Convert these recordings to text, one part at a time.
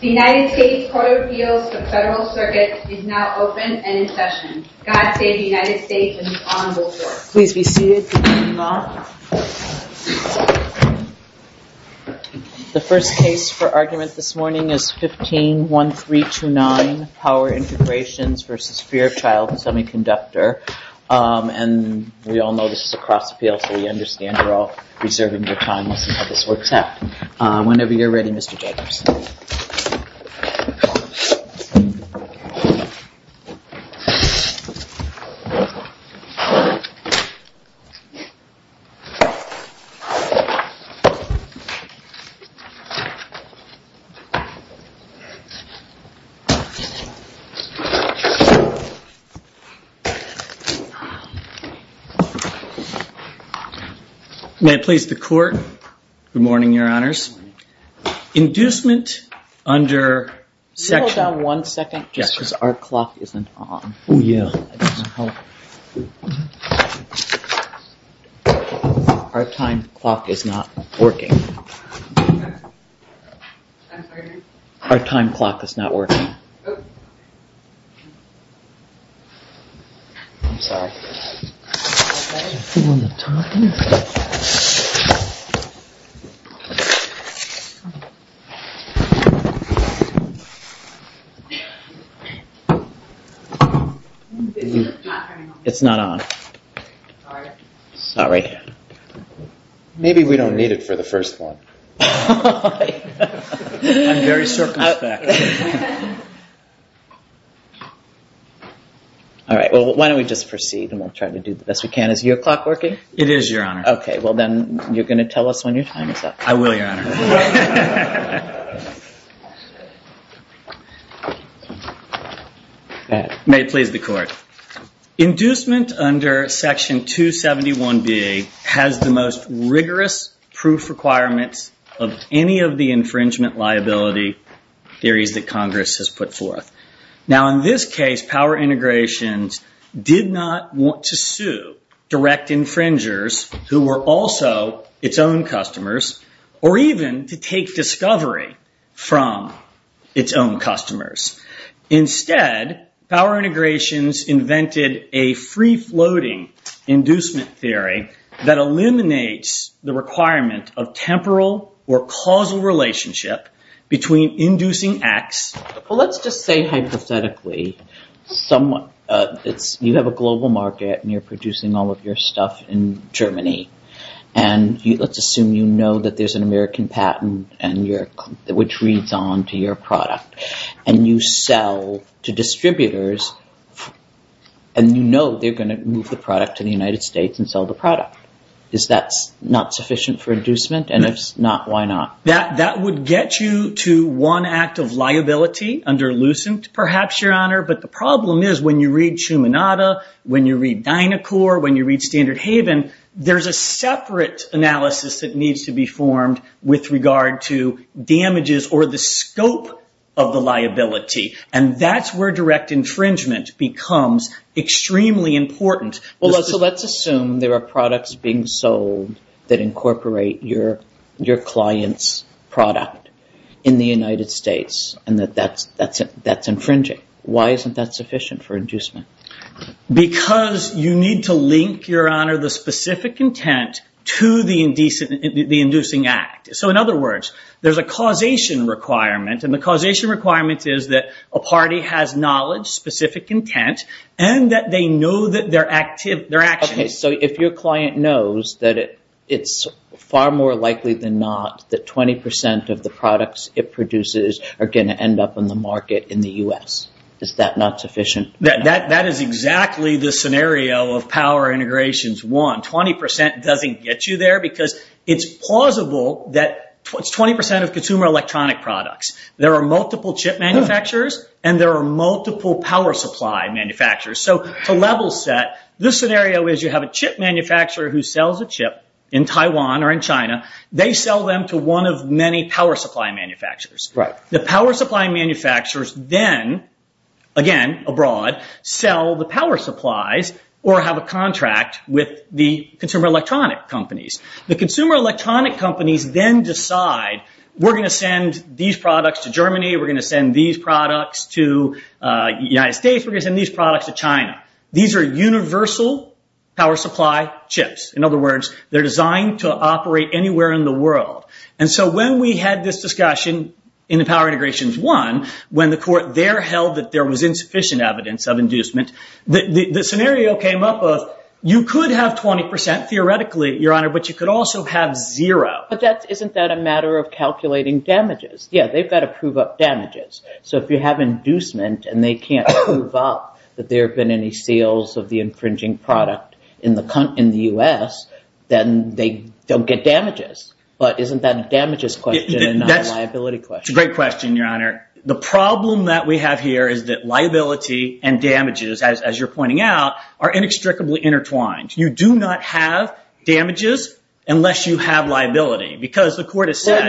The United States Court of Appeals for the Federal Circuit is now open and in session. God Save the United States and the Honorable Court. Please be seated. The first case for argument this morning is 15-1329 Power Integrations v. Fairchild Semiconductor. And we all know this is a cross appeal, so we understand you're all reserving your time to see how this works out. Whenever you're ready, Mr. Jacobs. May it please the Court. Good morning, Your Honors. Inducement under section- Can you hold down one second just because our clock isn't on. Our time clock is not working. Our time clock is not working. I'm sorry. It's not on. Sorry. Maybe we don't need it for the first one. I'm very circumspect. All right, well, why don't we just proceed and we'll try to do the best we can. Is your clock working? It is, Your Honor. OK, well, then you're going to tell us when your time is up. May it please the Court. Inducement under section 271B has the most rigorous proof requirements of any of the infringement liability theories that Congress has put forth. Now, in this case, Power Integrations did not want to sue direct infringers who were also its own customers or even to take discovery from its own customers. Instead, Power Integrations invented a free-floating inducement theory that eliminates the requirement of temporal or causal relationship between inducing acts- Well, let's just say hypothetically you have a global market and you're producing all of your stuff in Germany. And let's assume you know that there's an American patent which reads on to your product. And you sell to distributors and you know they're going to move the product to the United States and sell the product. Is that not sufficient for inducement? And if it's not, why not? That would get you to one act of liability under Lucent, perhaps, Your Honor. But the problem is when you read Shumanada, when you read Dynacor, when you read Standard Haven, there's a separate analysis that needs to be formed with regard to damages or the scope of the liability. And that's where direct infringement becomes extremely important. Well, so let's assume there are products being sold that incorporate your client's product in the United States and that that's infringing. Why isn't that sufficient for inducement? Because you need to link, Your Honor, the specific intent to the inducing act. So in other words, there's a causation requirement. And the causation requirement is that a party has knowledge, specific intent, and that they know their actions. Okay, so if your client knows that it's far more likely than not that 20% of the products it produces are going to end up in the market in the U.S., is that not sufficient? That is exactly the scenario of Power Integrations 1. 20% doesn't get you there because it's plausible that it's 20% of consumer electronic products. There are multiple chip manufacturers and there are multiple power supply manufacturers. So to level set, this scenario is you have a chip manufacturer who sells a chip in Taiwan or in China. They sell them to one of many power supply manufacturers. The power supply manufacturers then, again, abroad, sell the power supplies or have a contract with the consumer electronic companies. The consumer electronic companies then decide, we're going to send these products to Germany. We're going to send these products to the United States. We're going to send these products to China. These are universal power supply chips. In other words, they're designed to operate anywhere in the world. And so when we had this discussion in the Power Integrations 1, when the court there held that there was insufficient evidence of inducement, the scenario came up of you could have 20%, theoretically, Your Honor, but you could also have zero. But isn't that a matter of calculating damages? Yeah, they've got to prove up damages. So if you have inducement and they can't prove up that there have been any sales of the infringing product in the U.S., then they don't get damages. But isn't that a damages question and not a liability question? That's a great question, Your Honor. The problem that we have here is that liability and damages, as you're pointing out, are inextricably intertwined. You do not have damages unless you have liability because the court has said… You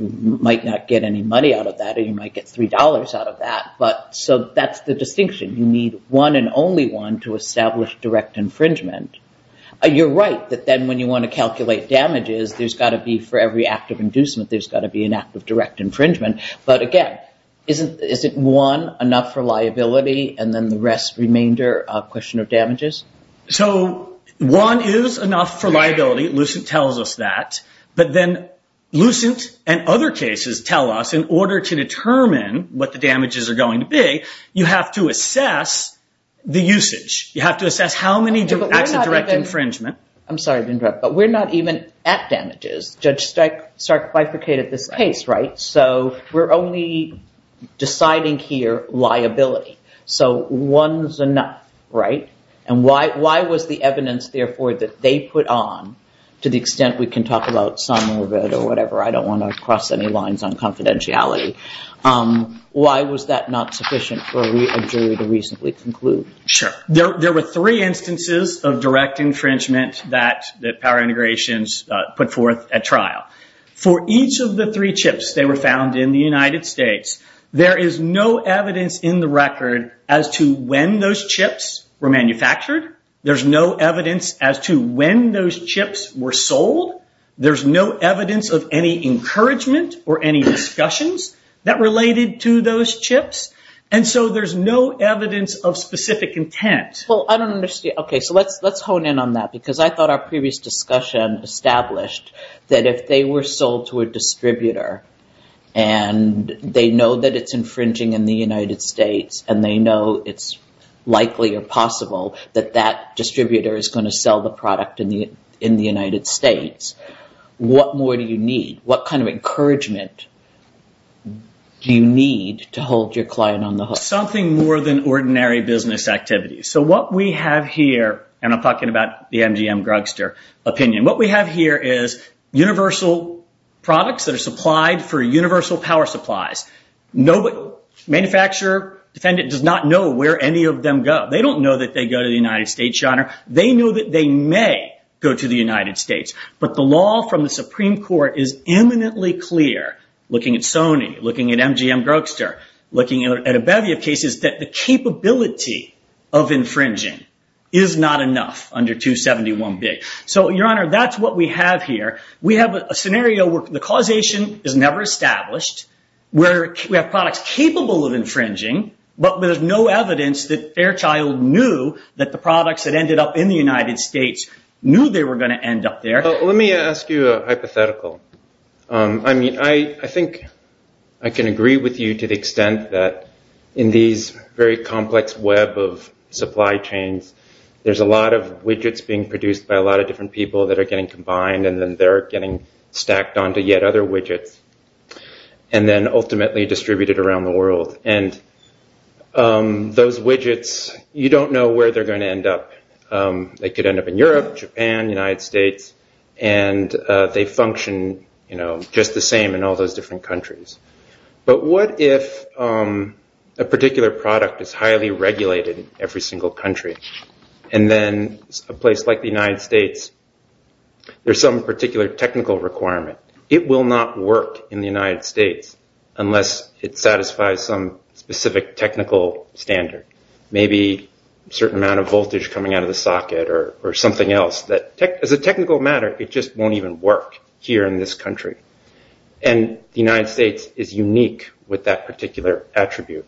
might not get any money out of that or you might get $3 out of that. So that's the distinction. You need one and only one to establish direct infringement. You're right that then when you want to calculate damages, there's got to be for every act of inducement, there's got to be an act of direct infringement. But again, isn't one enough for liability and then the rest remainder a question of damages? So one is enough for liability. Lucent tells us that. But then Lucent and other cases tell us in order to determine what the damages are going to be, you have to assess the usage. You have to assess how many acts of direct infringement. I'm sorry to interrupt, but we're not even at damages. Judge Stark bifurcated this case, right? So we're only deciding here liability. So one is enough, right? And why was the evidence, therefore, that they put on, to the extent we can talk about some of it or whatever. I don't want to cross any lines on confidentiality. Why was that not sufficient for a jury to reasonably conclude? Sure. There were three instances of direct infringement that power integrations put forth at trial. For each of the three chips that were found in the United States, there is no evidence in the record as to when those chips were manufactured. There's no evidence as to when those chips were sold. There's no evidence of any encouragement or any discussions that related to those chips. And so there's no evidence of specific intent. Well, I don't understand. Okay, so let's hone in on that because I thought our previous discussion established that if they were sold to a distributor, and they know that it's infringing in the United States, and they know it's likely or possible that that distributor is going to sell the product in the United States, what more do you need? What kind of encouragement do you need to hold your client on the hook? Something more than ordinary business activities. So what we have here, and I'm talking about the MGM-Grugster opinion, what we have here is universal products that are supplied for universal power supplies. Manufacturer, defendant does not know where any of them go. They don't know that they go to the United States. They know that they may go to the United States. But the law from the Supreme Court is eminently clear, looking at Sony, looking at MGM-Grugster, looking at a bevy of cases, that the capability of infringing is not enough under 271B. So, Your Honor, that's what we have here. We have a scenario where the causation is never established. We have products capable of infringing, but there's no evidence that Fairchild knew that the products that ended up in the United States knew they were going to end up there. Let me ask you a hypothetical. I mean, I think I can agree with you to the extent that in these very complex web of supply chains, there's a lot of widgets being produced by a lot of different people that are getting combined, and then they're getting stacked onto yet other widgets, and then ultimately distributed around the world. And those widgets, you don't know where they're going to end up. They could end up in Europe, Japan, United States, and they function just the same in all those different countries. But what if a particular product is highly regulated in every single country, and then a place like the United States, there's some particular technical requirement. It will not work in the United States unless it satisfies some specific technical standard. Maybe a certain amount of voltage coming out of the socket or something else. As a technical matter, it just won't even work here in this country. And the United States is unique with that particular attribute.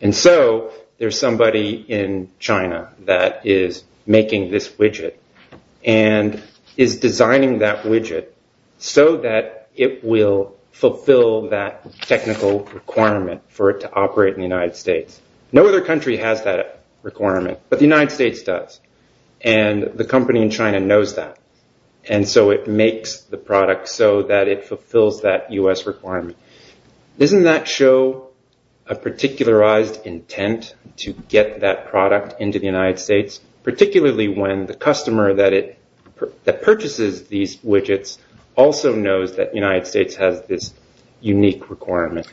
And so there's somebody in China that is making this widget and is designing that widget so that it will fulfill that technical requirement for it to operate in the United States. No other country has that requirement, but the United States does. And the company in China knows that. And so it makes the product so that it fulfills that U.S. requirement. Doesn't that show a particularized intent to get that product into the United States, particularly when the customer that purchases these widgets also knows that the United States has this unique requirement?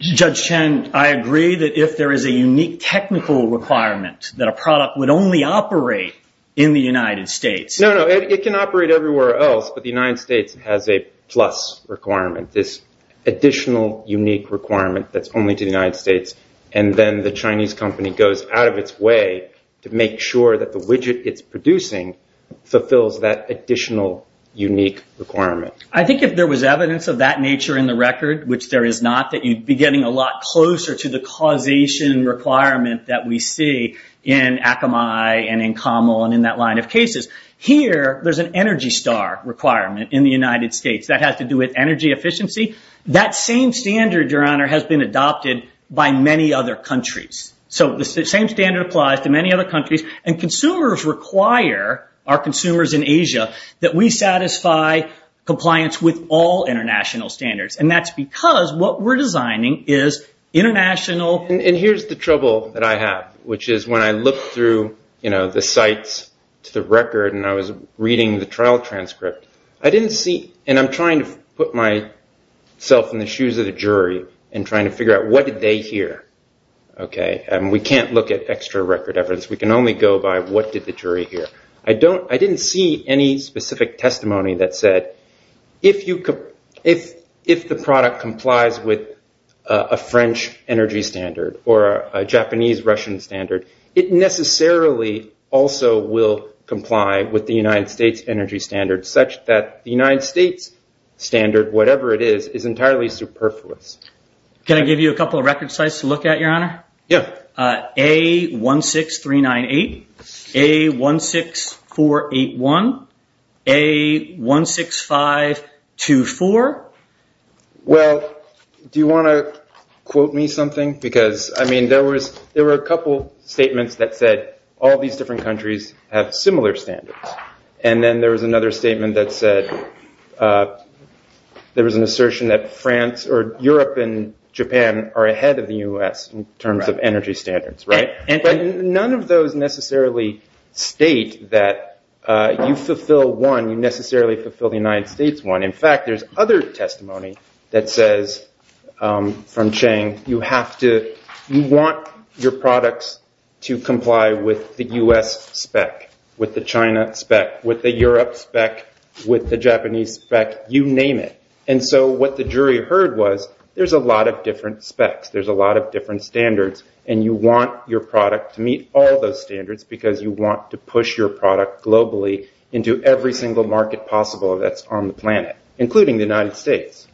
Judge Chen, I agree that if there is a unique technical requirement that a product would only operate in the United States. No, no, it can operate everywhere else, but the United States has a plus requirement, this additional unique requirement that's only to the United States. And then the Chinese company goes out of its way to make sure that the widget it's producing fulfills that additional unique requirement. I think if there was evidence of that nature in the record, which there is not, that you'd be getting a lot closer to the causation requirement that we see in Akamai and in Camel and in that line of cases. Here, there's an Energy Star requirement in the United States. That has to do with energy efficiency. That same standard, Your Honor, has been adopted by many other countries. So the same standard applies to many other countries. And consumers require, our consumers in Asia, that we satisfy compliance with all international standards. And that's because what we're designing is international. And here's the trouble that I have, which is when I look through the sites to the record and I was reading the trial transcript, I didn't see, and I'm trying to put myself in the shoes of the jury and trying to figure out what did they hear. We can't look at extra record evidence. We can only go by what did the jury hear. I didn't see any specific testimony that said, if the product complies with a French energy standard or a Japanese-Russian standard, it necessarily also will comply with the United States energy standard, such that the United States standard, whatever it is, is entirely superfluous. Can I give you a couple of record sites to look at, Your Honor? Yeah. A16398, A16481, A16524. Well, do you want to quote me something? Because, I mean, there were a couple statements that said all these different countries have similar standards. And then there was another statement that said there was an assertion that France or Europe and Japan are ahead of the U.S. in terms of energy standards, right? But none of those necessarily state that you fulfill one, you necessarily fulfill the United States one. In fact, there's other testimony that says from Chang, you want your products to comply with the U.S. spec, with the China spec, with the Europe spec, with the Japanese spec, you name it. And so what the jury heard was there's a lot of different specs, there's a lot of different standards, and you want your product to meet all those standards because you want to push your product globally into every single market possible that's on the planet, including the United States.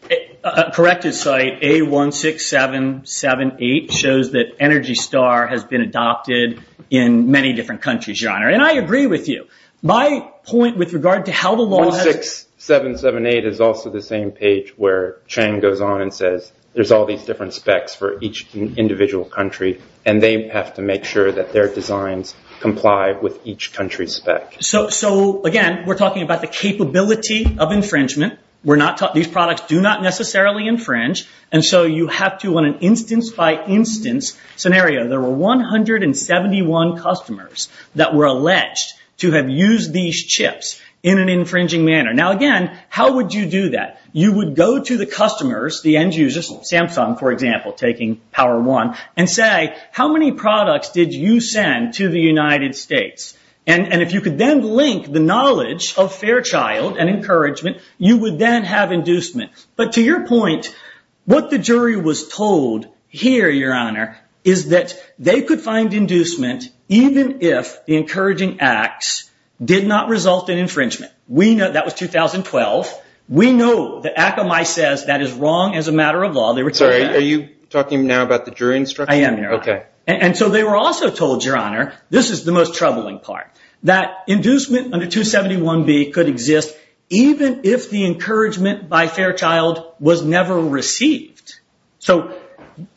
Correct his site, A16778 shows that Energy Star has been adopted in many different countries, Your Honor. And I agree with you. My point with regard to how the law has... A16778 is also the same page where Chang goes on and says there's all these different specs for each individual country, and they have to make sure that their designs comply with each country's spec. So, again, we're talking about the capability of infringement. These products do not necessarily infringe, and so you have to, on an instance-by-instance scenario, there were 171 customers that were alleged to have used these chips in an infringing manner. Now, again, how would you do that? You would go to the customers, the end users, Samsung, for example, taking Power One, and say, how many products did you send to the United States? And if you could then link the knowledge of Fairchild and encouragement, you would then have inducement. But to your point, what the jury was told here, Your Honor, is that they could find inducement even if the encouraging acts did not result in infringement. That was 2012. We know that Akamai says that is wrong as a matter of law. Sorry, are you talking now about the jury instruction? I am, Your Honor. Okay. And so they were also told, Your Honor, this is the most troubling part, that inducement under 271B could exist even if the encouragement by Fairchild was never received. So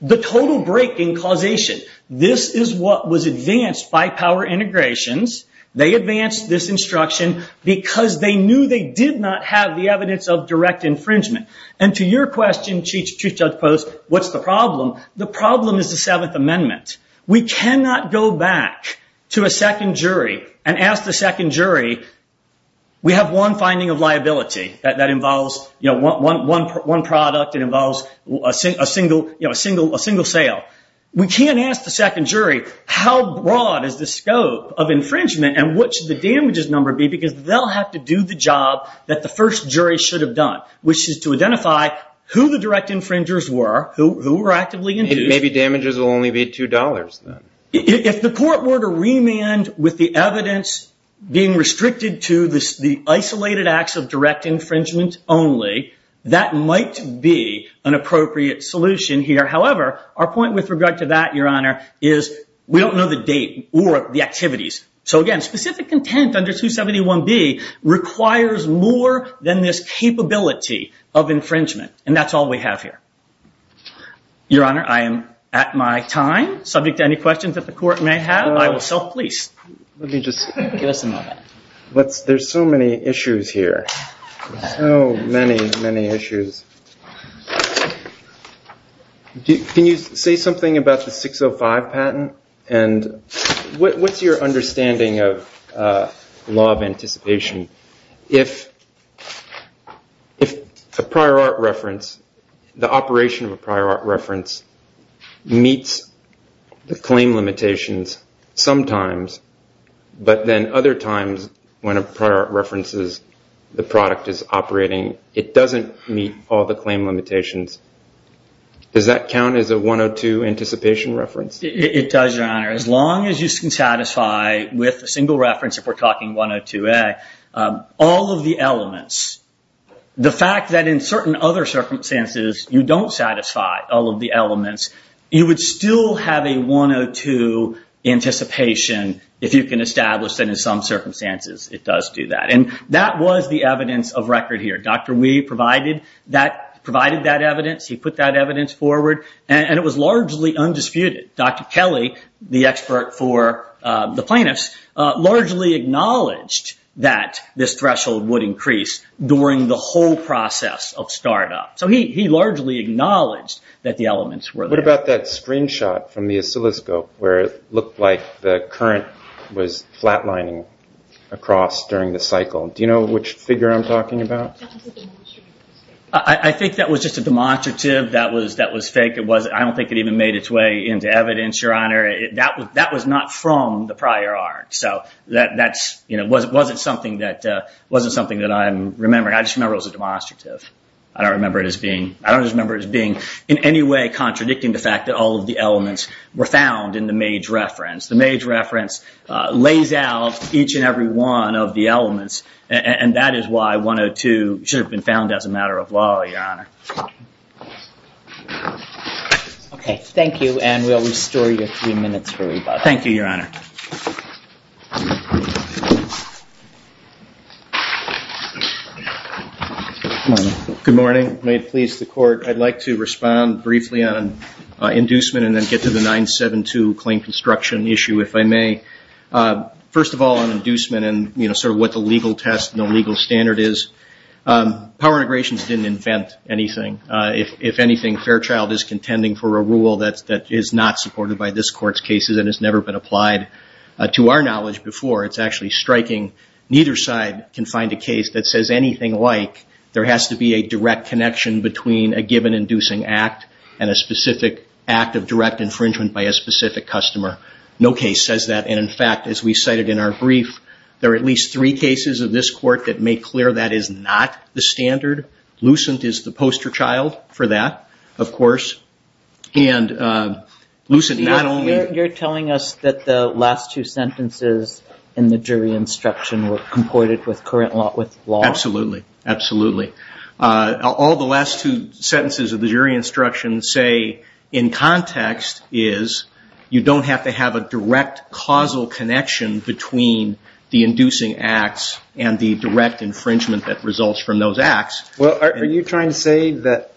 the total break in causation, this is what was advanced by Power Integrations. They advanced this instruction because they knew they did not have the evidence of direct infringement. And to your question, Chief Judge Post, what's the problem? The problem is the Seventh Amendment. We cannot go back to a second jury and ask the second jury, we have one finding of liability that involves one product, it involves a single sale. We can't ask the second jury, how broad is the scope of infringement and what should the damages number be because they'll have to do the job that the first jury should have done, which is to identify who the direct infringers were, who were actively induced. Maybe damages will only be $2 then. If the court were to remand with the evidence being restricted to the isolated acts of direct infringement only, that might be an appropriate solution here. However, our point with regard to that, Your Honor, is we don't know the date or the activities. So again, specific intent under 271B requires more than this capability of infringement. And that's all we have here. Your Honor, I am at my time. Subject to any questions that the court may have, I will self-police. Let me just... Give us a moment. There's so many issues here. So many, many issues. Can you say something about the 605 patent? And what's your understanding of law of anticipation? If a prior art reference, the operation of a prior art reference meets the claim limitations sometimes, but then other times when a prior art references the product is operating, it doesn't meet all the claim limitations, does that count as a 102 anticipation reference? It does, Your Honor. As long as you can satisfy with a single reference, if we're talking 102A, all of the elements, the fact that in certain other circumstances you don't satisfy all of the elements, you would still have a 102 anticipation if you can establish that in some circumstances it does do that. And that was the evidence of record here. Dr. Wee provided that evidence. He put that evidence forward. And it was largely undisputed. Dr. Kelly, the expert for the plaintiffs, largely acknowledged that this threshold would increase during the whole process of startup. So he largely acknowledged that the elements were there. What about that screenshot from the oscilloscope where it looked like the current was flatlining across during the cycle? Do you know which figure I'm talking about? I think that was just a demonstrative. That was fake. I don't think it even made its way into evidence, Your Honor. That was not from the prior art. So that wasn't something that I'm remembering. I just remember it was a demonstrative. I don't remember it as being in any way contradicting the fact that all of the elements were found in the mage reference. The mage reference lays out each and every one of the elements. And that is why 102 should have been found as a matter of law, Your Honor. Thank you. And we'll restore your three minutes for rebuttal. Thank you, Your Honor. Good morning. May it please the Court. I'd like to respond briefly on inducement and then get to the 972 claim construction issue, if I may. First of all, on inducement and sort of what the legal test and the legal standard is, power integrations didn't invent anything. If anything, Fairchild is contending for a rule that is not supported by this Court's cases and has never been applied to our knowledge before. It's actually striking. Neither side can find a case that says anything like there has to be a direct connection between a given inducing act and a specific act of direct infringement by a specific customer. No case says that. And, in fact, as we cited in our brief, there are at least three cases of this Court that make clear that is not the standard. Lucent is the poster child for that, of course. You're telling us that the last two sentences in the jury instruction were comported with current law? Absolutely. Absolutely. All the last two sentences of the jury instruction say in context is you don't have to have a direct causal connection between the inducing acts and the direct infringement that results from those acts. Well, are you trying to say that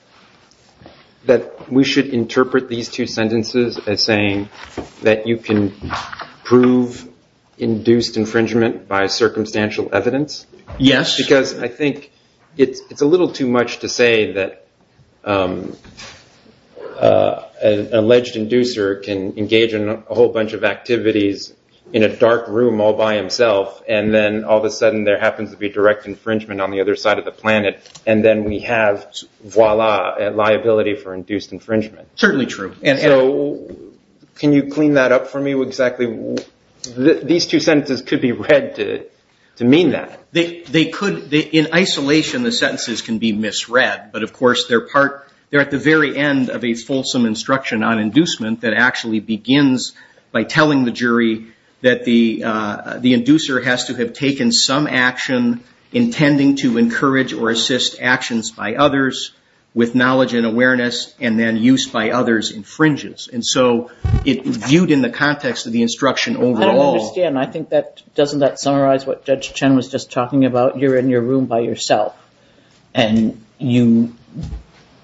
we should interpret these two sentences as saying that you can prove induced infringement by circumstantial evidence? Yes. Because I think it's a little too much to say that an alleged inducer can engage in a whole bunch of activities in a dark room all by himself and then all of a sudden there happens to be direct infringement on the other side of the planet and then we have, voila, liability for induced infringement. Certainly true. So can you clean that up for me exactly? These two sentences could be read to mean that. They could. In isolation, the sentences can be misread. But, of course, they're at the very end of a fulsome instruction on inducement that actually begins by telling the jury that the inducer has to have taken some action intending to encourage or assist actions by others with knowledge and awareness and then use by others infringes. And so it's viewed in the context of the instruction overall. I don't understand. I think that doesn't that summarize what Judge Chen was just talking about? You're in your room by yourself and you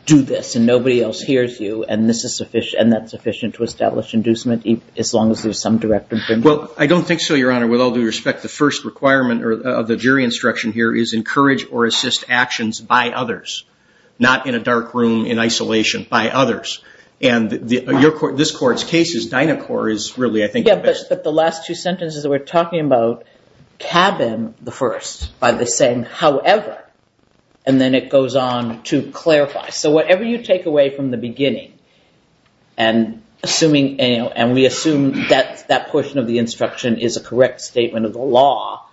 do this and nobody else hears you and that's sufficient to establish inducement as long as there's some direct infringement? Well, I don't think so, Your Honor. With all due respect, the first requirement of the jury instruction here is encourage or assist actions by others, not in a dark room in isolation, by others. And this court's case is Dynacore is really, I think, the best. Yeah, but the last two sentences were talking about Cabin I by the saying, however, and then it goes on to clarify. So whatever you take away from the beginning and we assume that that portion of the instruction is a correct statement of the law,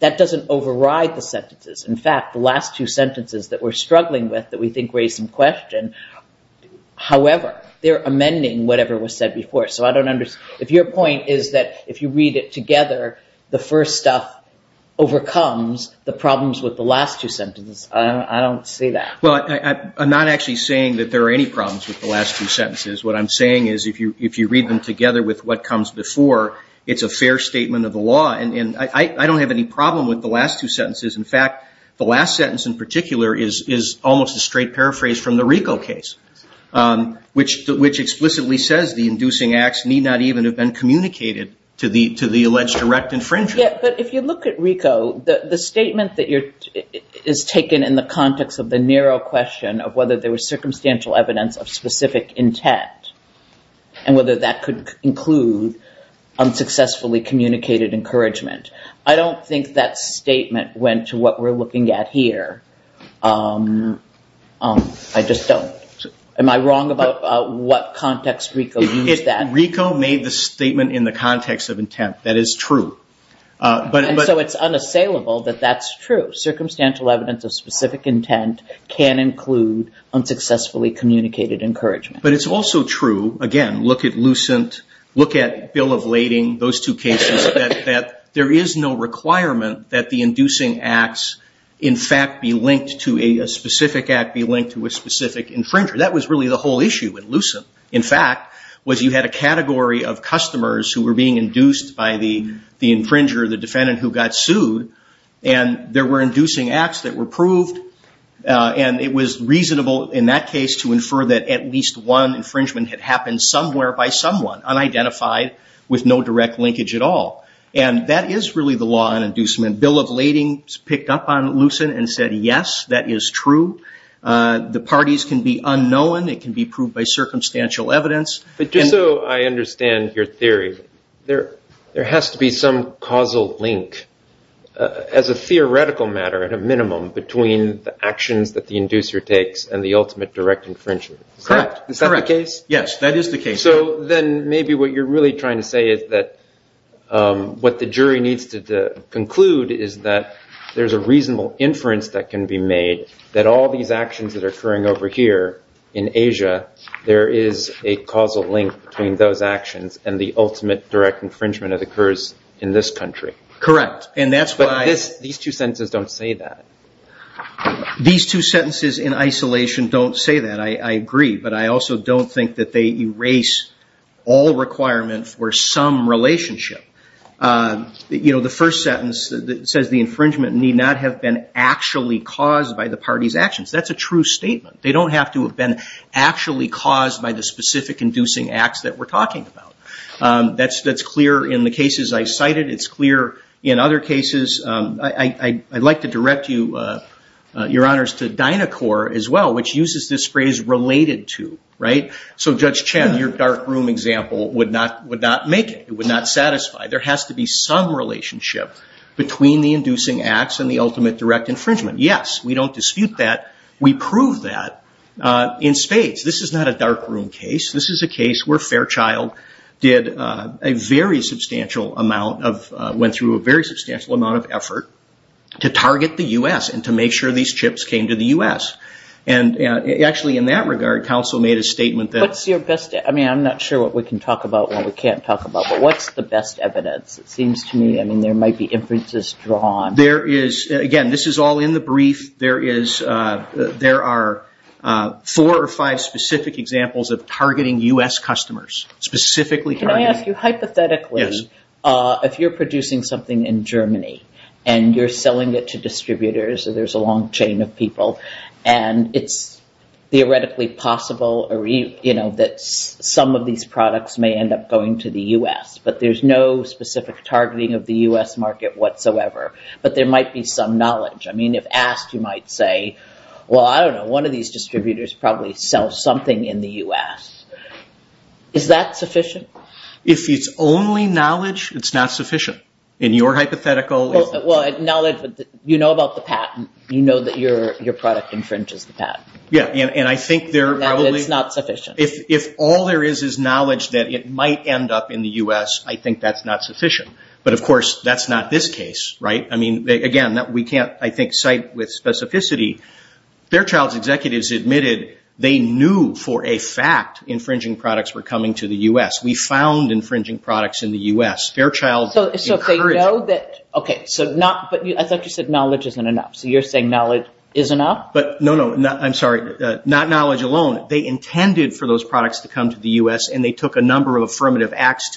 that doesn't override the sentences. In fact, the last two sentences that we're struggling with that we think raise some question, however, they're amending whatever was said before. So I don't understand. If your point is that if you read it together, the first stuff overcomes the problems with the last two sentences, I don't see that. Well, I'm not actually saying that there are any problems with the last two sentences. What I'm saying is if you read them together with what comes before, it's a fair statement of the law. And I don't have any problem with the last two sentences. In fact, the last sentence in particular is almost a straight paraphrase from the RICO case, which explicitly says the inducing acts need not even have been communicated to the alleged direct infringement. But if you look at RICO, the statement that is taken in the context of the narrow question of whether there was circumstantial evidence of specific intent and whether that could include unsuccessfully communicated encouragement, I don't think that statement went to what we're looking at here. I just don't. Am I wrong about what context RICO used that? RICO made the statement in the context of intent. That is true. And so it's unassailable that that's true. Circumstantial evidence of specific intent can include unsuccessfully communicated encouragement. But it's also true, again, look at Lucent, look at Bill of Lading, those two cases, that there is no requirement that the inducing acts in fact be linked to a specific act, be linked to a specific infringer. That was really the whole issue with Lucent. In fact, was you had a category of customers who were being induced by the infringer, the defendant who got sued, and there were inducing acts that were proved. And it was reasonable in that case to infer that at least one infringement had happened somewhere by someone, unidentified, with no direct linkage at all. And that is really the law on inducement. Bill of Lading picked up on Lucent and said, yes, that is true. The parties can be unknown. It can be proved by circumstantial evidence. But just so I understand your theory, there has to be some causal link as a theoretical matter, at a minimum, between the actions that the inducer takes and the ultimate direct infringer. Correct. Is that the case? Yes, that is the case. So then maybe what you're really trying to say is that what the jury needs to conclude is that there's a reasonable inference that can be made that all these actions that are occurring over here in Asia, there is a causal link between those actions and the ultimate direct infringement that occurs in this country. Correct. But these two sentences don't say that. These two sentences in isolation don't say that, I agree. But I also don't think that they erase all requirements for some relationship. The first sentence says the infringement need not have been actually caused by the party's actions. That's a true statement. They don't have to have been actually caused by the specific inducing acts that we're talking about. That's clear in the cases I cited. It's clear in other cases. I'd like to direct you, Your Honors, to Dynacor as well, which uses this phrase related to. So, Judge Chen, your dark room example would not make it. It would not satisfy. There has to be some relationship between the inducing acts and the ultimate direct infringement. Yes, we don't dispute that. We prove that in spades. This is not a dark room case. This is a case where Fairchild went through a very substantial amount of effort to target the U.S. and to make sure these chips came to the U.S. Actually, in that regard, counsel made a statement that. I'm not sure what we can talk about and what we can't talk about, but what's the best evidence? It seems to me there might be inferences drawn. Again, this is all in the brief. There are four or five specific examples of targeting U.S. customers, specifically targeting. Can I ask you hypothetically if you're producing something in Germany and you're selling it to distributors and there's a long chain of people and it's theoretically possible that some of these products may end up going to the U.S., but there's no specific targeting of the U.S. market whatsoever, but there might be some knowledge. I mean, if asked, you might say, well, I don't know. One of these distributors probably sells something in the U.S. Is that sufficient? If it's only knowledge, it's not sufficient. Well, you know about the patent. You know that your product infringes the patent. It's not sufficient. If all there is is knowledge that it might end up in the U.S., I think that's not sufficient. But, of course, that's not this case, right? Again, we can't, I think, cite with specificity. Fairchild's executives admitted they knew for a fact infringing products were coming to the U.S. We found infringing products in the U.S. Fairchild encouraged them. Okay. I thought you said knowledge isn't enough. So you're saying knowledge is enough? No, no. I'm sorry. Not knowledge alone. They intended for those products to come to the U.S., and they took a number of affirmative acts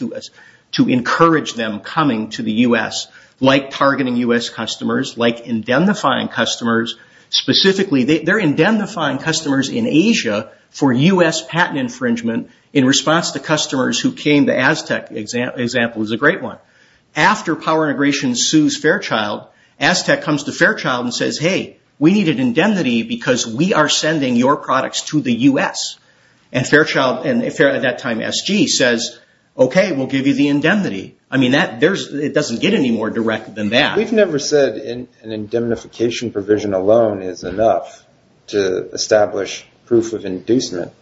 to encourage them coming to the U.S., like targeting U.S. customers, like indemnifying customers. Specifically, they're indemnifying customers in Asia for U.S. patent infringement in response to customers who came to Aztec, for example, is a great one. After power integration sues Fairchild, Aztec comes to Fairchild and says, hey, we needed indemnity because we are sending your products to the U.S. And Fairchild, at that time, SG, says, okay, we'll give you the indemnity. I mean, it doesn't get any more direct than that. We've never said an indemnification provision alone is enough to establish proof of inducement,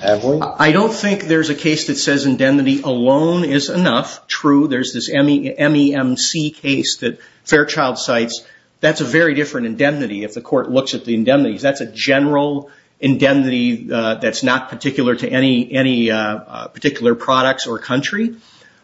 have we? I don't think there's a case that says indemnity alone is enough. True, there's this MEMC case that Fairchild cites. That's a very different indemnity if the court looks at the indemnities. That's a general indemnity that's not particular to any particular products or country.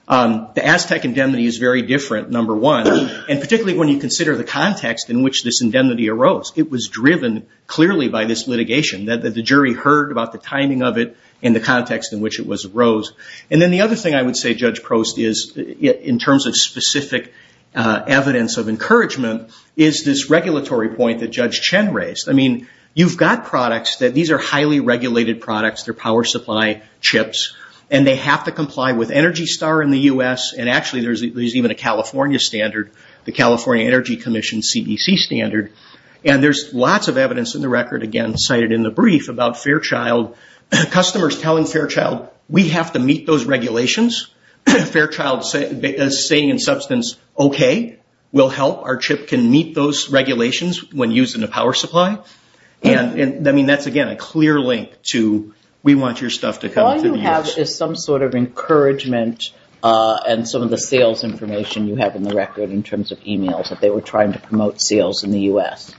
The Aztec indemnity is very different, number one, and particularly when you consider the context in which this indemnity arose. It was driven clearly by this litigation, that the jury heard about the timing of it and the context in which it arose. And then the other thing I would say, Judge Prost, in terms of specific evidence of encouragement, is this regulatory point that Judge Chen raised. I mean, you've got products that these are highly regulated products. They're power supply chips. And they have to comply with Energy Star in the U.S. And actually there's even a California standard, the California Energy Commission CDC standard. And there's lots of evidence in the record, again cited in the brief, about Fairchild. Customers telling Fairchild, we have to meet those regulations. Fairchild is saying in substance, okay, we'll help. Our chip can meet those regulations when used in a power supply. And, I mean, that's, again, a clear link to we want your stuff to come to the U.S. All you have is some sort of encouragement and some of the sales information you have in the record in terms of e-mails that they were trying to promote sales in the U.S.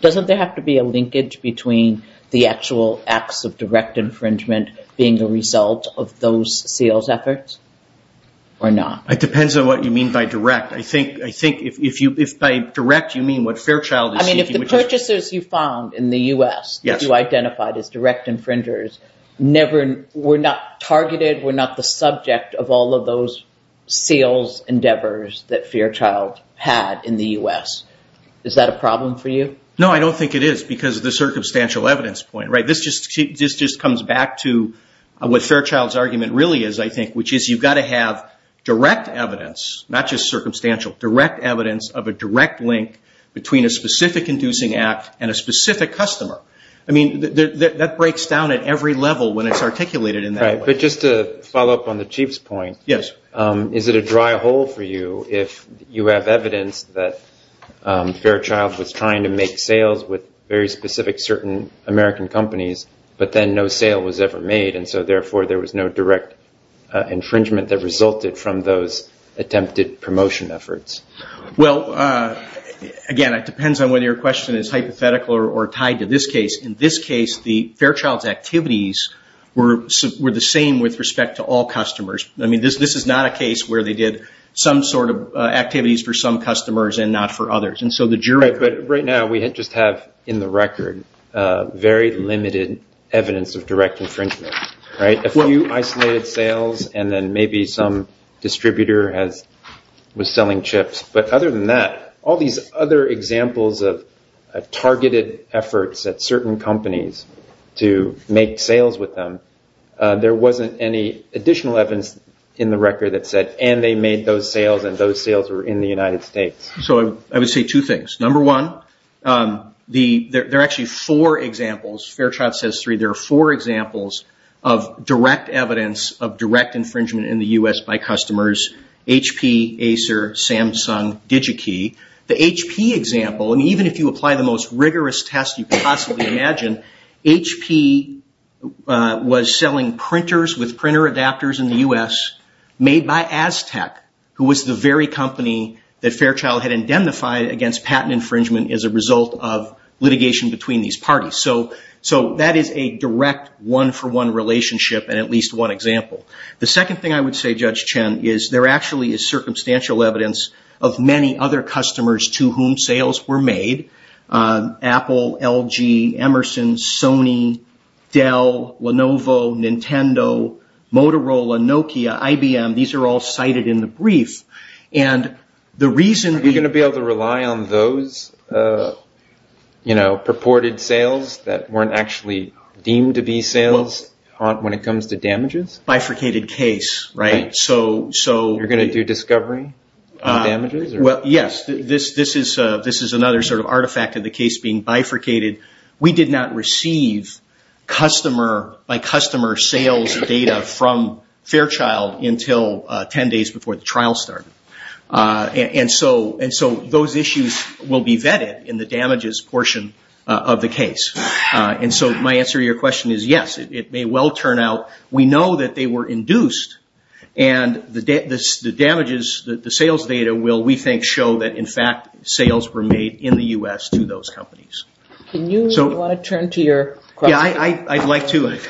Doesn't there have to be a linkage between the actual acts of direct infringement being the result of those sales efforts or not? It depends on what you mean by direct. I think if by direct you mean what Fairchild is seeking. I mean, if the purchasers you found in the U.S. that you identified as direct infringers never were not targeted, were not the subject of all of those sales endeavors that Fairchild had in the U.S., is that a problem for you? No, I don't think it is because of the circumstantial evidence point. This just comes back to what Fairchild's argument really is, I think, which is you've got to have direct evidence, not just circumstantial, direct evidence of a direct link between a specific inducing act and a specific customer. I mean, that breaks down at every level when it's articulated in that way. But just to follow up on the Chief's point, is it a dry hole for you if you have evidence that Fairchild was trying to make sales with very specific certain American companies but then no sale was ever made and so therefore there was no direct infringement that resulted from those attempted promotion efforts? Well, again, it depends on whether your question is hypothetical or tied to this case. In this case, the Fairchild's activities were the same with respect to all customers. I mean, this is not a case where they did some sort of activities for some customers and not for others. But right now we just have in the record very limited evidence of direct infringement, right? A few isolated sales and then maybe some distributor was selling chips. But other than that, all these other examples of targeted efforts at certain companies to make sales with them, there wasn't any additional evidence in the record that said, and they made those sales and those sales were in the United States. So I would say two things. Number one, there are actually four examples. Fairchild says three. There are four examples of direct evidence of direct infringement in the U.S. by customers. HP, Acer, Samsung, DigiKey. The HP example, and even if you apply the most rigorous test you could possibly imagine, HP was selling printers with printer adapters in the U.S. made by Aztec, who was the very company that Fairchild had indemnified against patent infringement as a result of litigation between these parties. So that is a direct one-for-one relationship and at least one example. The second thing I would say, Judge Chen, is there actually is circumstantial evidence of many other customers to whom sales were made. Apple, LG, Emerson, Sony, Dell, Lenovo, Nintendo, Motorola, Nokia, IBM. These are all cited in the brief. Are we going to be able to rely on those purported sales that weren't actually deemed to be sales when it comes to damages? Bifurcated case, right? You're going to do discovery on damages? Yes. This is another sort of artifact of the case being bifurcated. We did not receive customer-by-customer sales data from Fairchild until 10 days before the trial started. And so those issues will be vetted in the damages portion of the case. And so my answer to your question is yes, it may well turn out. We know that they were induced and the damages, the sales data, will we think show that in fact sales were made in the U.S. to those companies. Do you want to turn to your question? Yeah, I'd like to. I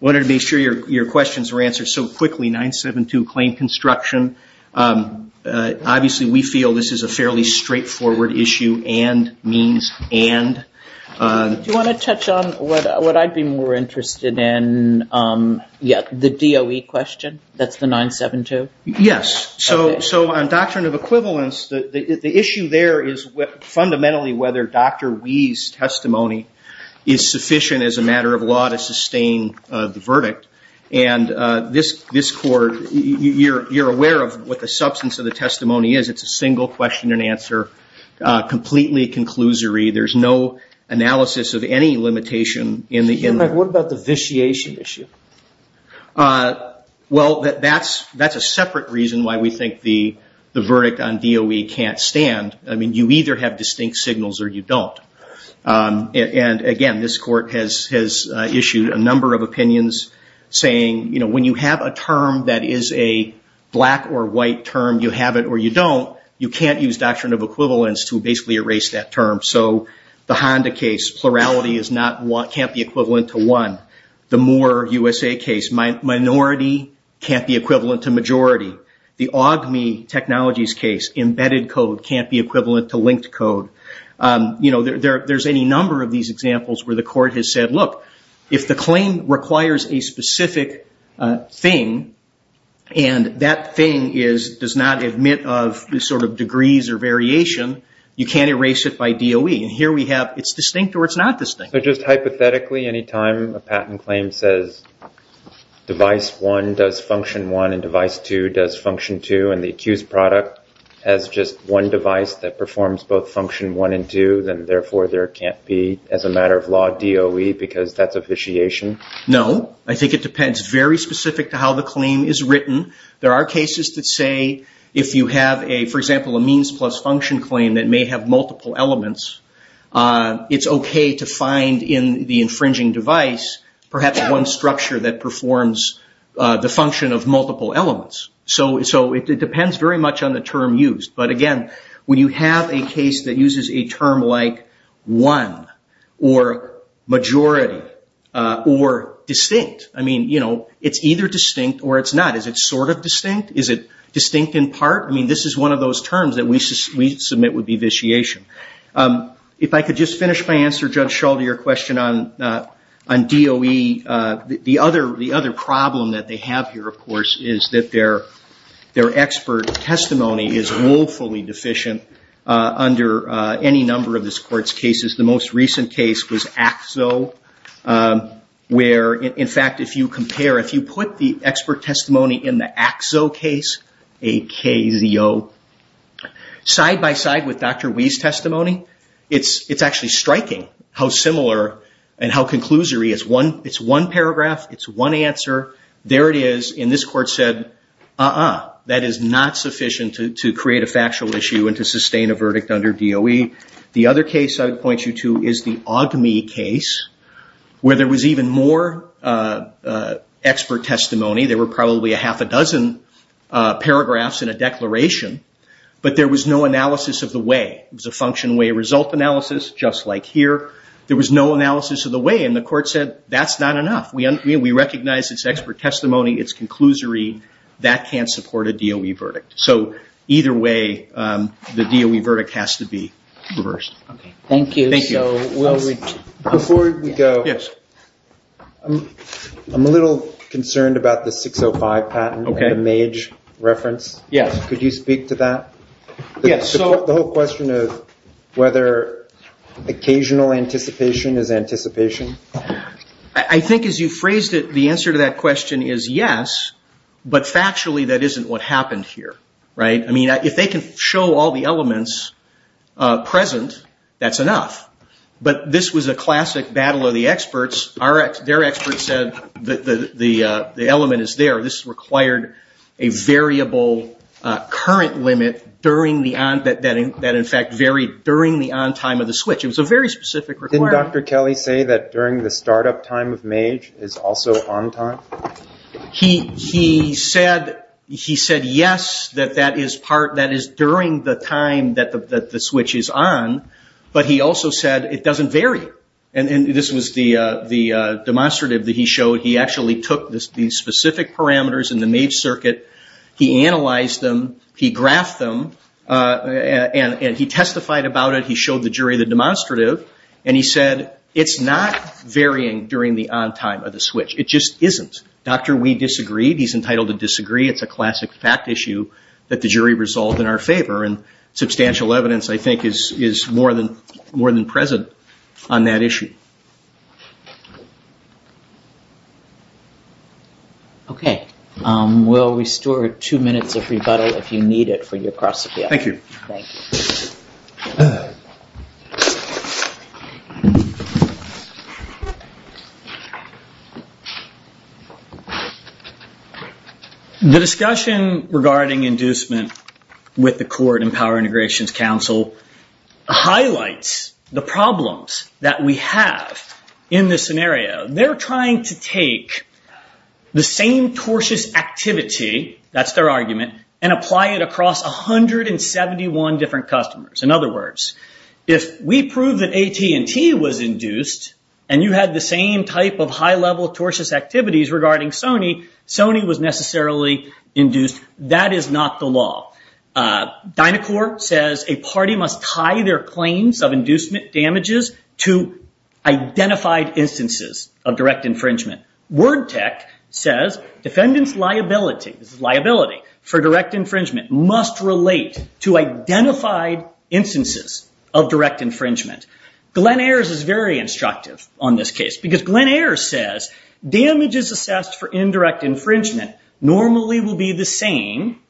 wanted to make sure your questions were answered so quickly. 972, claim construction. Obviously, we feel this is a fairly straightforward issue and means and. Do you want to touch on what I'd be more interested in? The DOE question? That's the 972? Yes. So on doctrine of equivalence, the issue there is fundamentally whether Dr. Wee's testimony is sufficient as a matter of law to sustain the verdict. And this court, you're aware of what the substance of the testimony is. It's a single question and answer, completely conclusory. There's no analysis of any limitation. What about the vitiation issue? Well, that's a separate reason why we think the verdict on DOE can't stand. I mean, you either have distinct signals or you don't. And, again, this court has issued a number of opinions saying, you know, when you have a term that is a black or white term, you have it or you don't, you can't use doctrine of equivalence to basically erase that term. So the Honda case, plurality can't be equivalent to one. The Moore-USA case, minority can't be equivalent to majority. The Augme Technologies case, embedded code can't be equivalent to linked code. You know, there's any number of these examples where the court has said, look, if the claim requires a specific thing, and that thing does not admit of sort of degrees or variation, you can't erase it by DOE. And here we have it's distinct or it's not distinct. So just hypothetically, any time a patent claim says device 1 does function 1 and device 2 does function 2, and the accused product has just one device that performs both function 1 and 2, then therefore there can't be, as a matter of law, DOE because that's a vitiation? No. I think it depends very specific to how the claim is written. There are cases that say if you have, for example, a means plus function claim that may have multiple elements, it's okay to find in the infringing device perhaps one structure that performs the function of multiple elements. So it depends very much on the term used. But, again, when you have a case that uses a term like 1 or majority or distinct, I mean, you know, it's either distinct or it's not. Is it sort of distinct? Is it distinct in part? I mean, this is one of those terms that we submit would be vitiation. If I could just finish my answer, Judge Schall, to your question on DOE. The other problem that they have here, of course, is that their expert testimony is woefully deficient under any number of this Court's cases. The most recent case was AXO where, in fact, if you compare, in the AXO case, A-K-Z-O, side-by-side with Dr. Wee's testimony, it's actually striking how similar and how conclusory. It's one paragraph. It's one answer. There it is, and this Court said, uh-uh, that is not sufficient to create a factual issue and to sustain a verdict under DOE. The other case I would point you to is the AWGMI case where there was even more expert testimony. There were probably a half a dozen paragraphs in a declaration, but there was no analysis of the way. It was a function-way-result analysis, just like here. There was no analysis of the way, and the Court said, that's not enough. We recognize it's expert testimony. It's conclusory. That can't support a DOE verdict. So either way, the DOE verdict has to be reversed. Thank you. Before we go, I'm a little concerned about the 605 patent, the Mage reference. Could you speak to that? The whole question of whether occasional anticipation is anticipation. I think as you phrased it, the answer to that question is yes, but factually that isn't what happened here. If they can show all the elements present, that's enough. But this was a classic battle of the experts. Their experts said the element is there. This required a variable current limit that in fact varied during the on-time of the switch. It was a very specific requirement. Didn't Dr. Kelly say that during the start-up time of Mage is also on-time? He said yes, that that is during the time that the switch is on, but he also said it doesn't vary. This was the demonstrative that he showed. He actually took the specific parameters in the Mage circuit, he analyzed them, he graphed them, and he testified about it. He showed the jury the demonstrative, and he said it's not varying during the on-time of the switch. It just isn't. Dr. We disagreed. He's entitled to disagree. It's a classic fact issue that the jury resolved in our favor, and substantial evidence I think is more than present on that issue. Okay. We'll restore two minutes of rebuttal if you need it for your cross-examination. Thank you. Thank you. The discussion regarding inducement with the court and Power Integrations Council highlights the problems that we have in this scenario. They're trying to take the same tortious activity, that's their argument, and apply it across 171 different customers. In other words, if we prove that AT&T was induced and you had the same type of high-level tortious activities regarding Sony, Sony was necessarily induced. That is not the law. Dynacor says a party must tie their claims of inducement damages to identified instances of direct infringement. Wordtech says defendants' liability for direct infringement must relate to identified instances of direct infringement. Glenn Ayers is very instructive on this case because Glenn Ayers says damages assessed for indirect infringement normally will be the same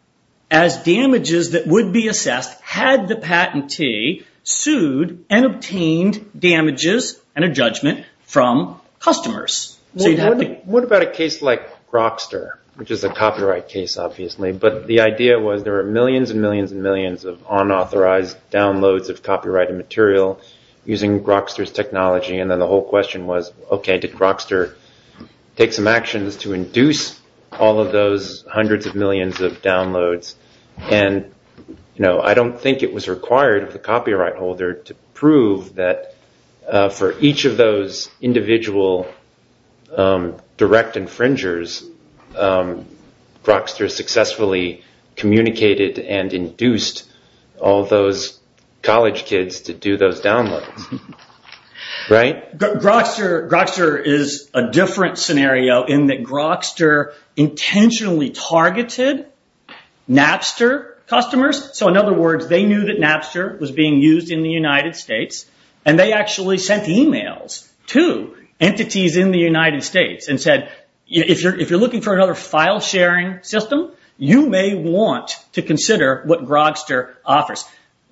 as damages that would be assessed had the patentee sued and obtained damages and a judgment from customers. What about a case like Grokster, which is a copyright case obviously, but the idea was there are millions and millions and millions of unauthorized downloads of copyrighted material using Grokster's technology and then the whole question was, okay, did Grokster take some actions to induce all of those hundreds of millions of downloads and I don't think it was required of the copyright holder to prove that for each of those individual direct infringers, Grokster successfully communicated and induced all those college kids to do those downloads, right? Grokster is a different scenario in that Grokster intentionally targeted Napster customers. In other words, they knew that Napster was being used in the United States and they actually sent emails to entities in the United States and said if you're looking for another file sharing system, you may want to consider what Grokster offers.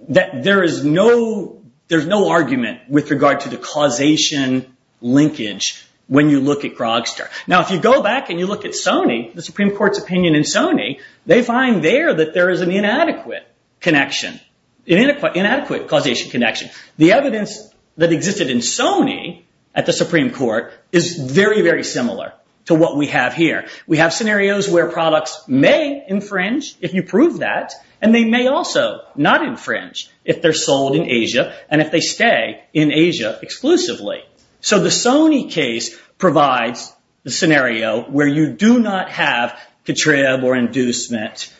There is no argument with regard to the causation linkage when you look at Grokster. Now if you go back and you look at Sony, the Supreme Court's opinion in Sony, they find there that there is an inadequate causation connection. The evidence that existed in Sony at the Supreme Court is very, very similar to what we have here. We have scenarios where products may infringe if you prove that and they may also not infringe if they're sold in Asia and if they stay in Asia exclusively. So the Sony case provides the scenario where you do not have contrib or inducement.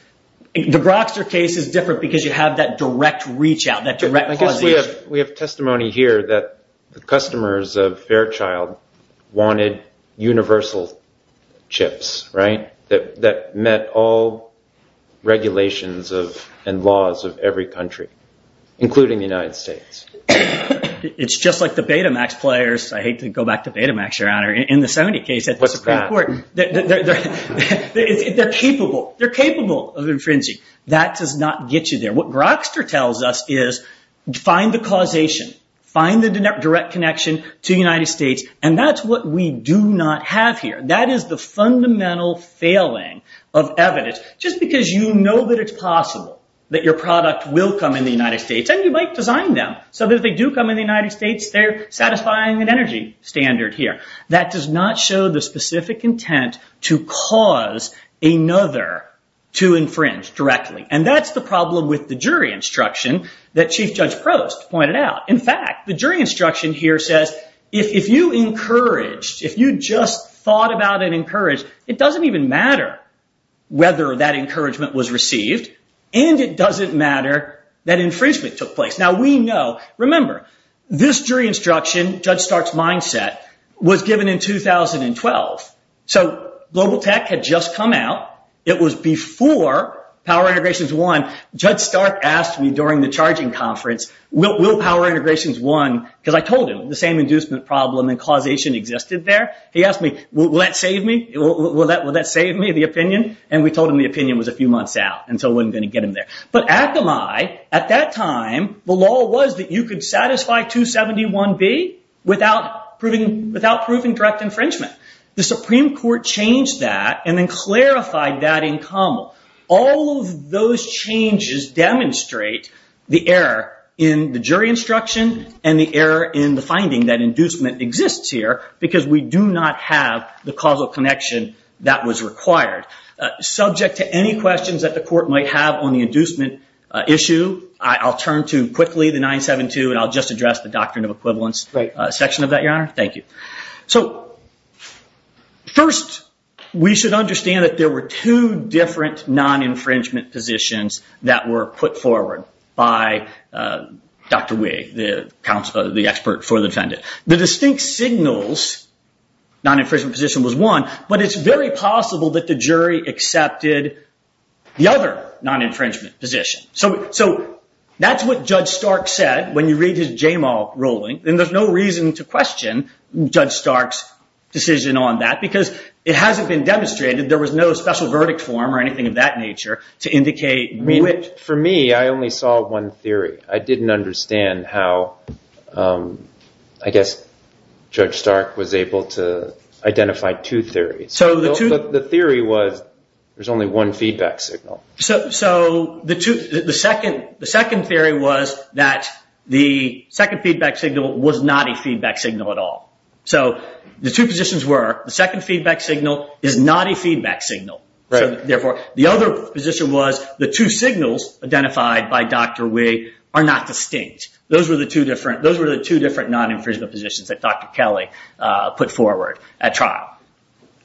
The Grokster case is different because you have that direct reach out, that direct causation. I guess we have testimony here that the customers of Fairchild wanted universal chips, right, that met all regulations and laws of every country, including the United States. It's just like the Betamax players. I hate to go back to Betamax, Your Honor. In the Sony case at the Supreme Court, they're capable. They're capable of infringing. That does not get you there. What Grokster tells us is find the causation, find the direct connection to the United States, and that's what we do not have here. That is the fundamental failing of evidence. Just because you know that it's possible that your product will come in the United States and you might design them so that if they do come in the United States, they're satisfying an energy standard here. That does not show the specific intent to cause another to infringe directly. And that's the problem with the jury instruction that Chief Judge Prost pointed out. In fact, the jury instruction here says if you encouraged, if you just thought about it and encouraged, it doesn't even matter whether that encouragement was received and it doesn't matter that infringement took place. Now, we know, remember, this jury instruction, Judge Stark's mindset, was given in 2012. So global tech had just come out. It was before Power Integrations won. Judge Stark asked me during the charging conference, will Power Integrations won? Because I told him the same inducement problem and causation existed there. He asked me, will that save me? Will that save me, the opinion? And we told him the opinion was a few months out and so it wasn't going to get him there. But Akamai, at that time, the law was that you could satisfy 271B without proving direct infringement. The Supreme Court changed that and then clarified that in Campbell. All of those changes demonstrate the error in the jury instruction and the error in the finding that inducement exists here because we do not have the causal connection that was required. Subject to any questions that the court might have on the inducement issue, I'll turn to, quickly, the 972 and I'll just address the doctrine of equivalence section of that, Your Honor. Thank you. So first, we should understand that there were two different non-infringement positions that were put forward by Dr. Wee, the expert for the defendant. The distinct signals non-infringement position was one, but it's very possible that the jury accepted the other non-infringement position. So that's what Judge Stark said when you read his Jamal Rowling, and there's no reason to question Judge Stark's decision on that because it hasn't been demonstrated. There was no special verdict form or anything of that nature to indicate which. For me, I only saw one theory. I didn't understand how, I guess, Judge Stark was able to identify two theories. So the theory was there's only one feedback signal. So the second theory was that the second feedback signal was not a feedback signal at all. So the two positions were the second feedback signal is not a feedback signal. Therefore, the other position was the two signals identified by Dr. Wee are not distinct. Those were the two different non-infringement positions that Dr. Kelly put forward at trial.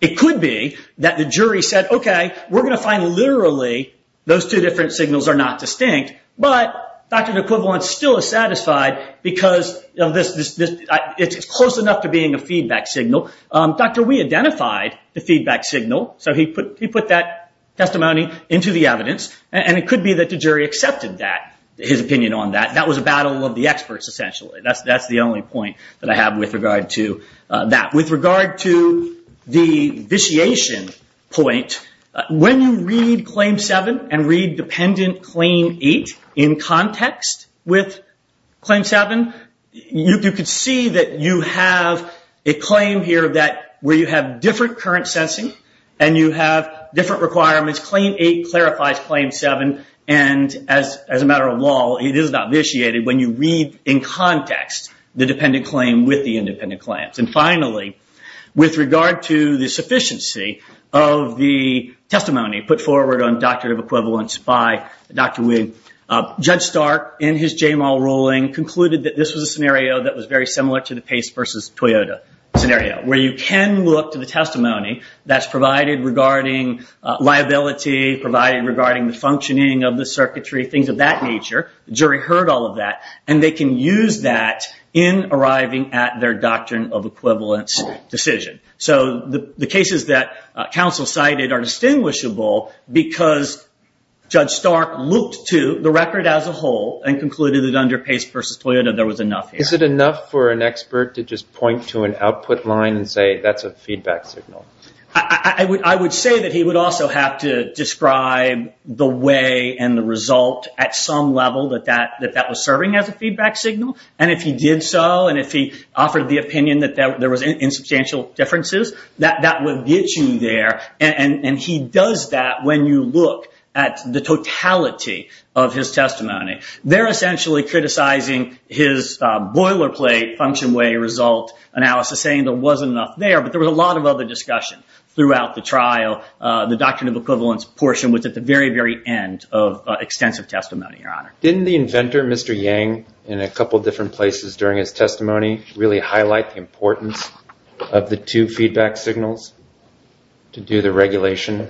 It could be that the jury said, OK, we're going to find literally those two different signals are not distinct. But Dr. de Quivant still is satisfied because it's close enough to being a feedback signal. Dr. Wee identified the feedback signal. So he put that testimony into the evidence. And it could be that the jury accepted that, his opinion on that. That was a battle of the experts, essentially. That's the only point that I have with regard to that. With regard to the vitiation point, when you read Claim 7 and read Dependent Claim 8 in context with Claim 7, you could see that you have a claim here where you have different current sensing and you have different requirements. Claim 8 clarifies Claim 7. And as a matter of law, it is not vitiated when you read in context the dependent claim with the independent claims. And finally, with regard to the sufficiency of the testimony put forward on Doctrine of Equivalence by Dr. Wee, Judge Stark, in his J-Mal ruling, concluded that this was a scenario that was very similar to the Pace versus Toyota scenario, where you can look to the testimony that's provided regarding liability, provided regarding the functioning of the circuitry, things of that nature. The jury heard all of that. And they can use that in arriving at their Doctrine of Equivalence decision. So the cases that counsel cited are distinguishable because Judge Stark looked to the record as a whole and concluded that under Pace versus Toyota, there was enough here. Is it enough for an expert to just point to an output line and say, that's a feedback signal? I would say that he would also have to describe the way and the result at some level that that was serving as a feedback signal. And if he did so, and if he offered the opinion that there was insubstantial differences, that would get you there. And he does that when you look at the totality of his testimony. They're essentially criticizing his boilerplate function way result analysis, saying there wasn't enough there. But there was a lot of other discussion throughout the trial. The Doctrine of Equivalence portion was at the very, very end of extensive testimony, Your Honor. Didn't the inventor, Mr. Yang, in a couple different places during his testimony, really highlight the importance of the two feedback signals to do the regulation?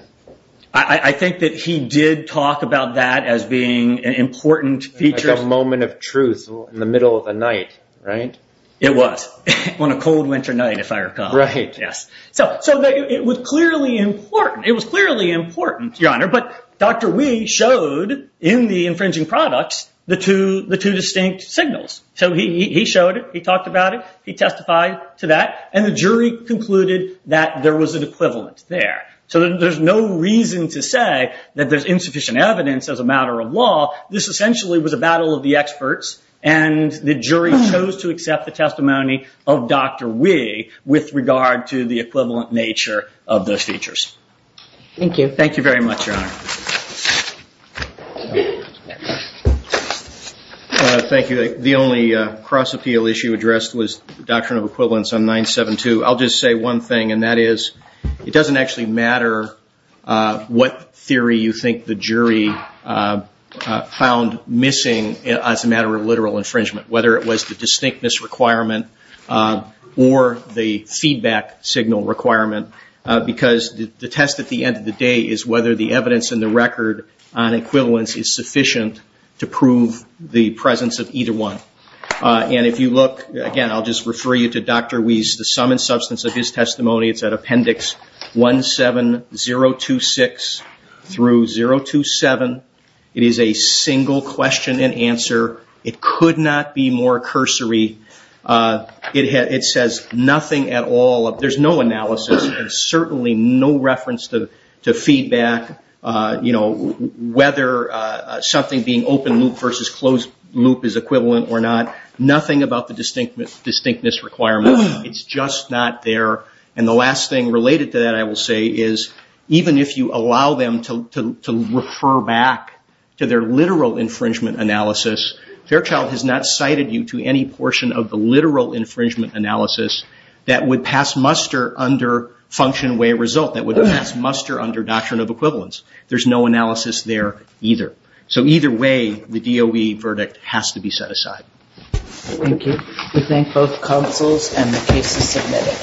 I think that he did talk about that as being an important feature. Like a moment of truth in the middle of the night, right? It was on a cold winter night, if I recall. Right. Yes. So it was clearly important. Your Honor. But Dr. Wee showed, in the infringing products, the two distinct signals. So he showed it. He talked about it. He testified to that. And the jury concluded that there was an equivalent there. So there's no reason to say that there's insufficient evidence as a matter of law. This essentially was a battle of the experts. And the jury chose to accept the testimony of Dr. Wee with regard to the equivalent nature of those features. Thank you. Thank you very much, Your Honor. Thank you. The only cross-appeal issue addressed was the doctrine of equivalence on 972. I'll just say one thing, and that is it doesn't actually matter what theory you think the jury found missing as a matter of literal infringement, whether it was the distinctness requirement or the feedback signal requirement, because the test at the end of the day is whether the evidence in the record on equivalence is sufficient to prove the presence of either one. And if you look, again, I'll just refer you to Dr. Wee's, the sum and substance of his testimony. It's at Appendix 17026 through 027. It is a single question and answer. It could not be more cursory. It says nothing at all. There's no analysis and certainly no reference to feedback, whether something being open loop versus closed loop is equivalent or not, nothing about the distinctness requirement. It's just not there. And the last thing related to that, I will say, is even if you allow them to refer back to their literal infringement analysis, Fairchild has not cited you to any portion of the literal infringement analysis that would pass muster under function way result, that would pass muster under doctrine of equivalence. There's no analysis there either. So either way, the DOE verdict has to be set aside. Thank you. We thank both counsels and the case is submitted.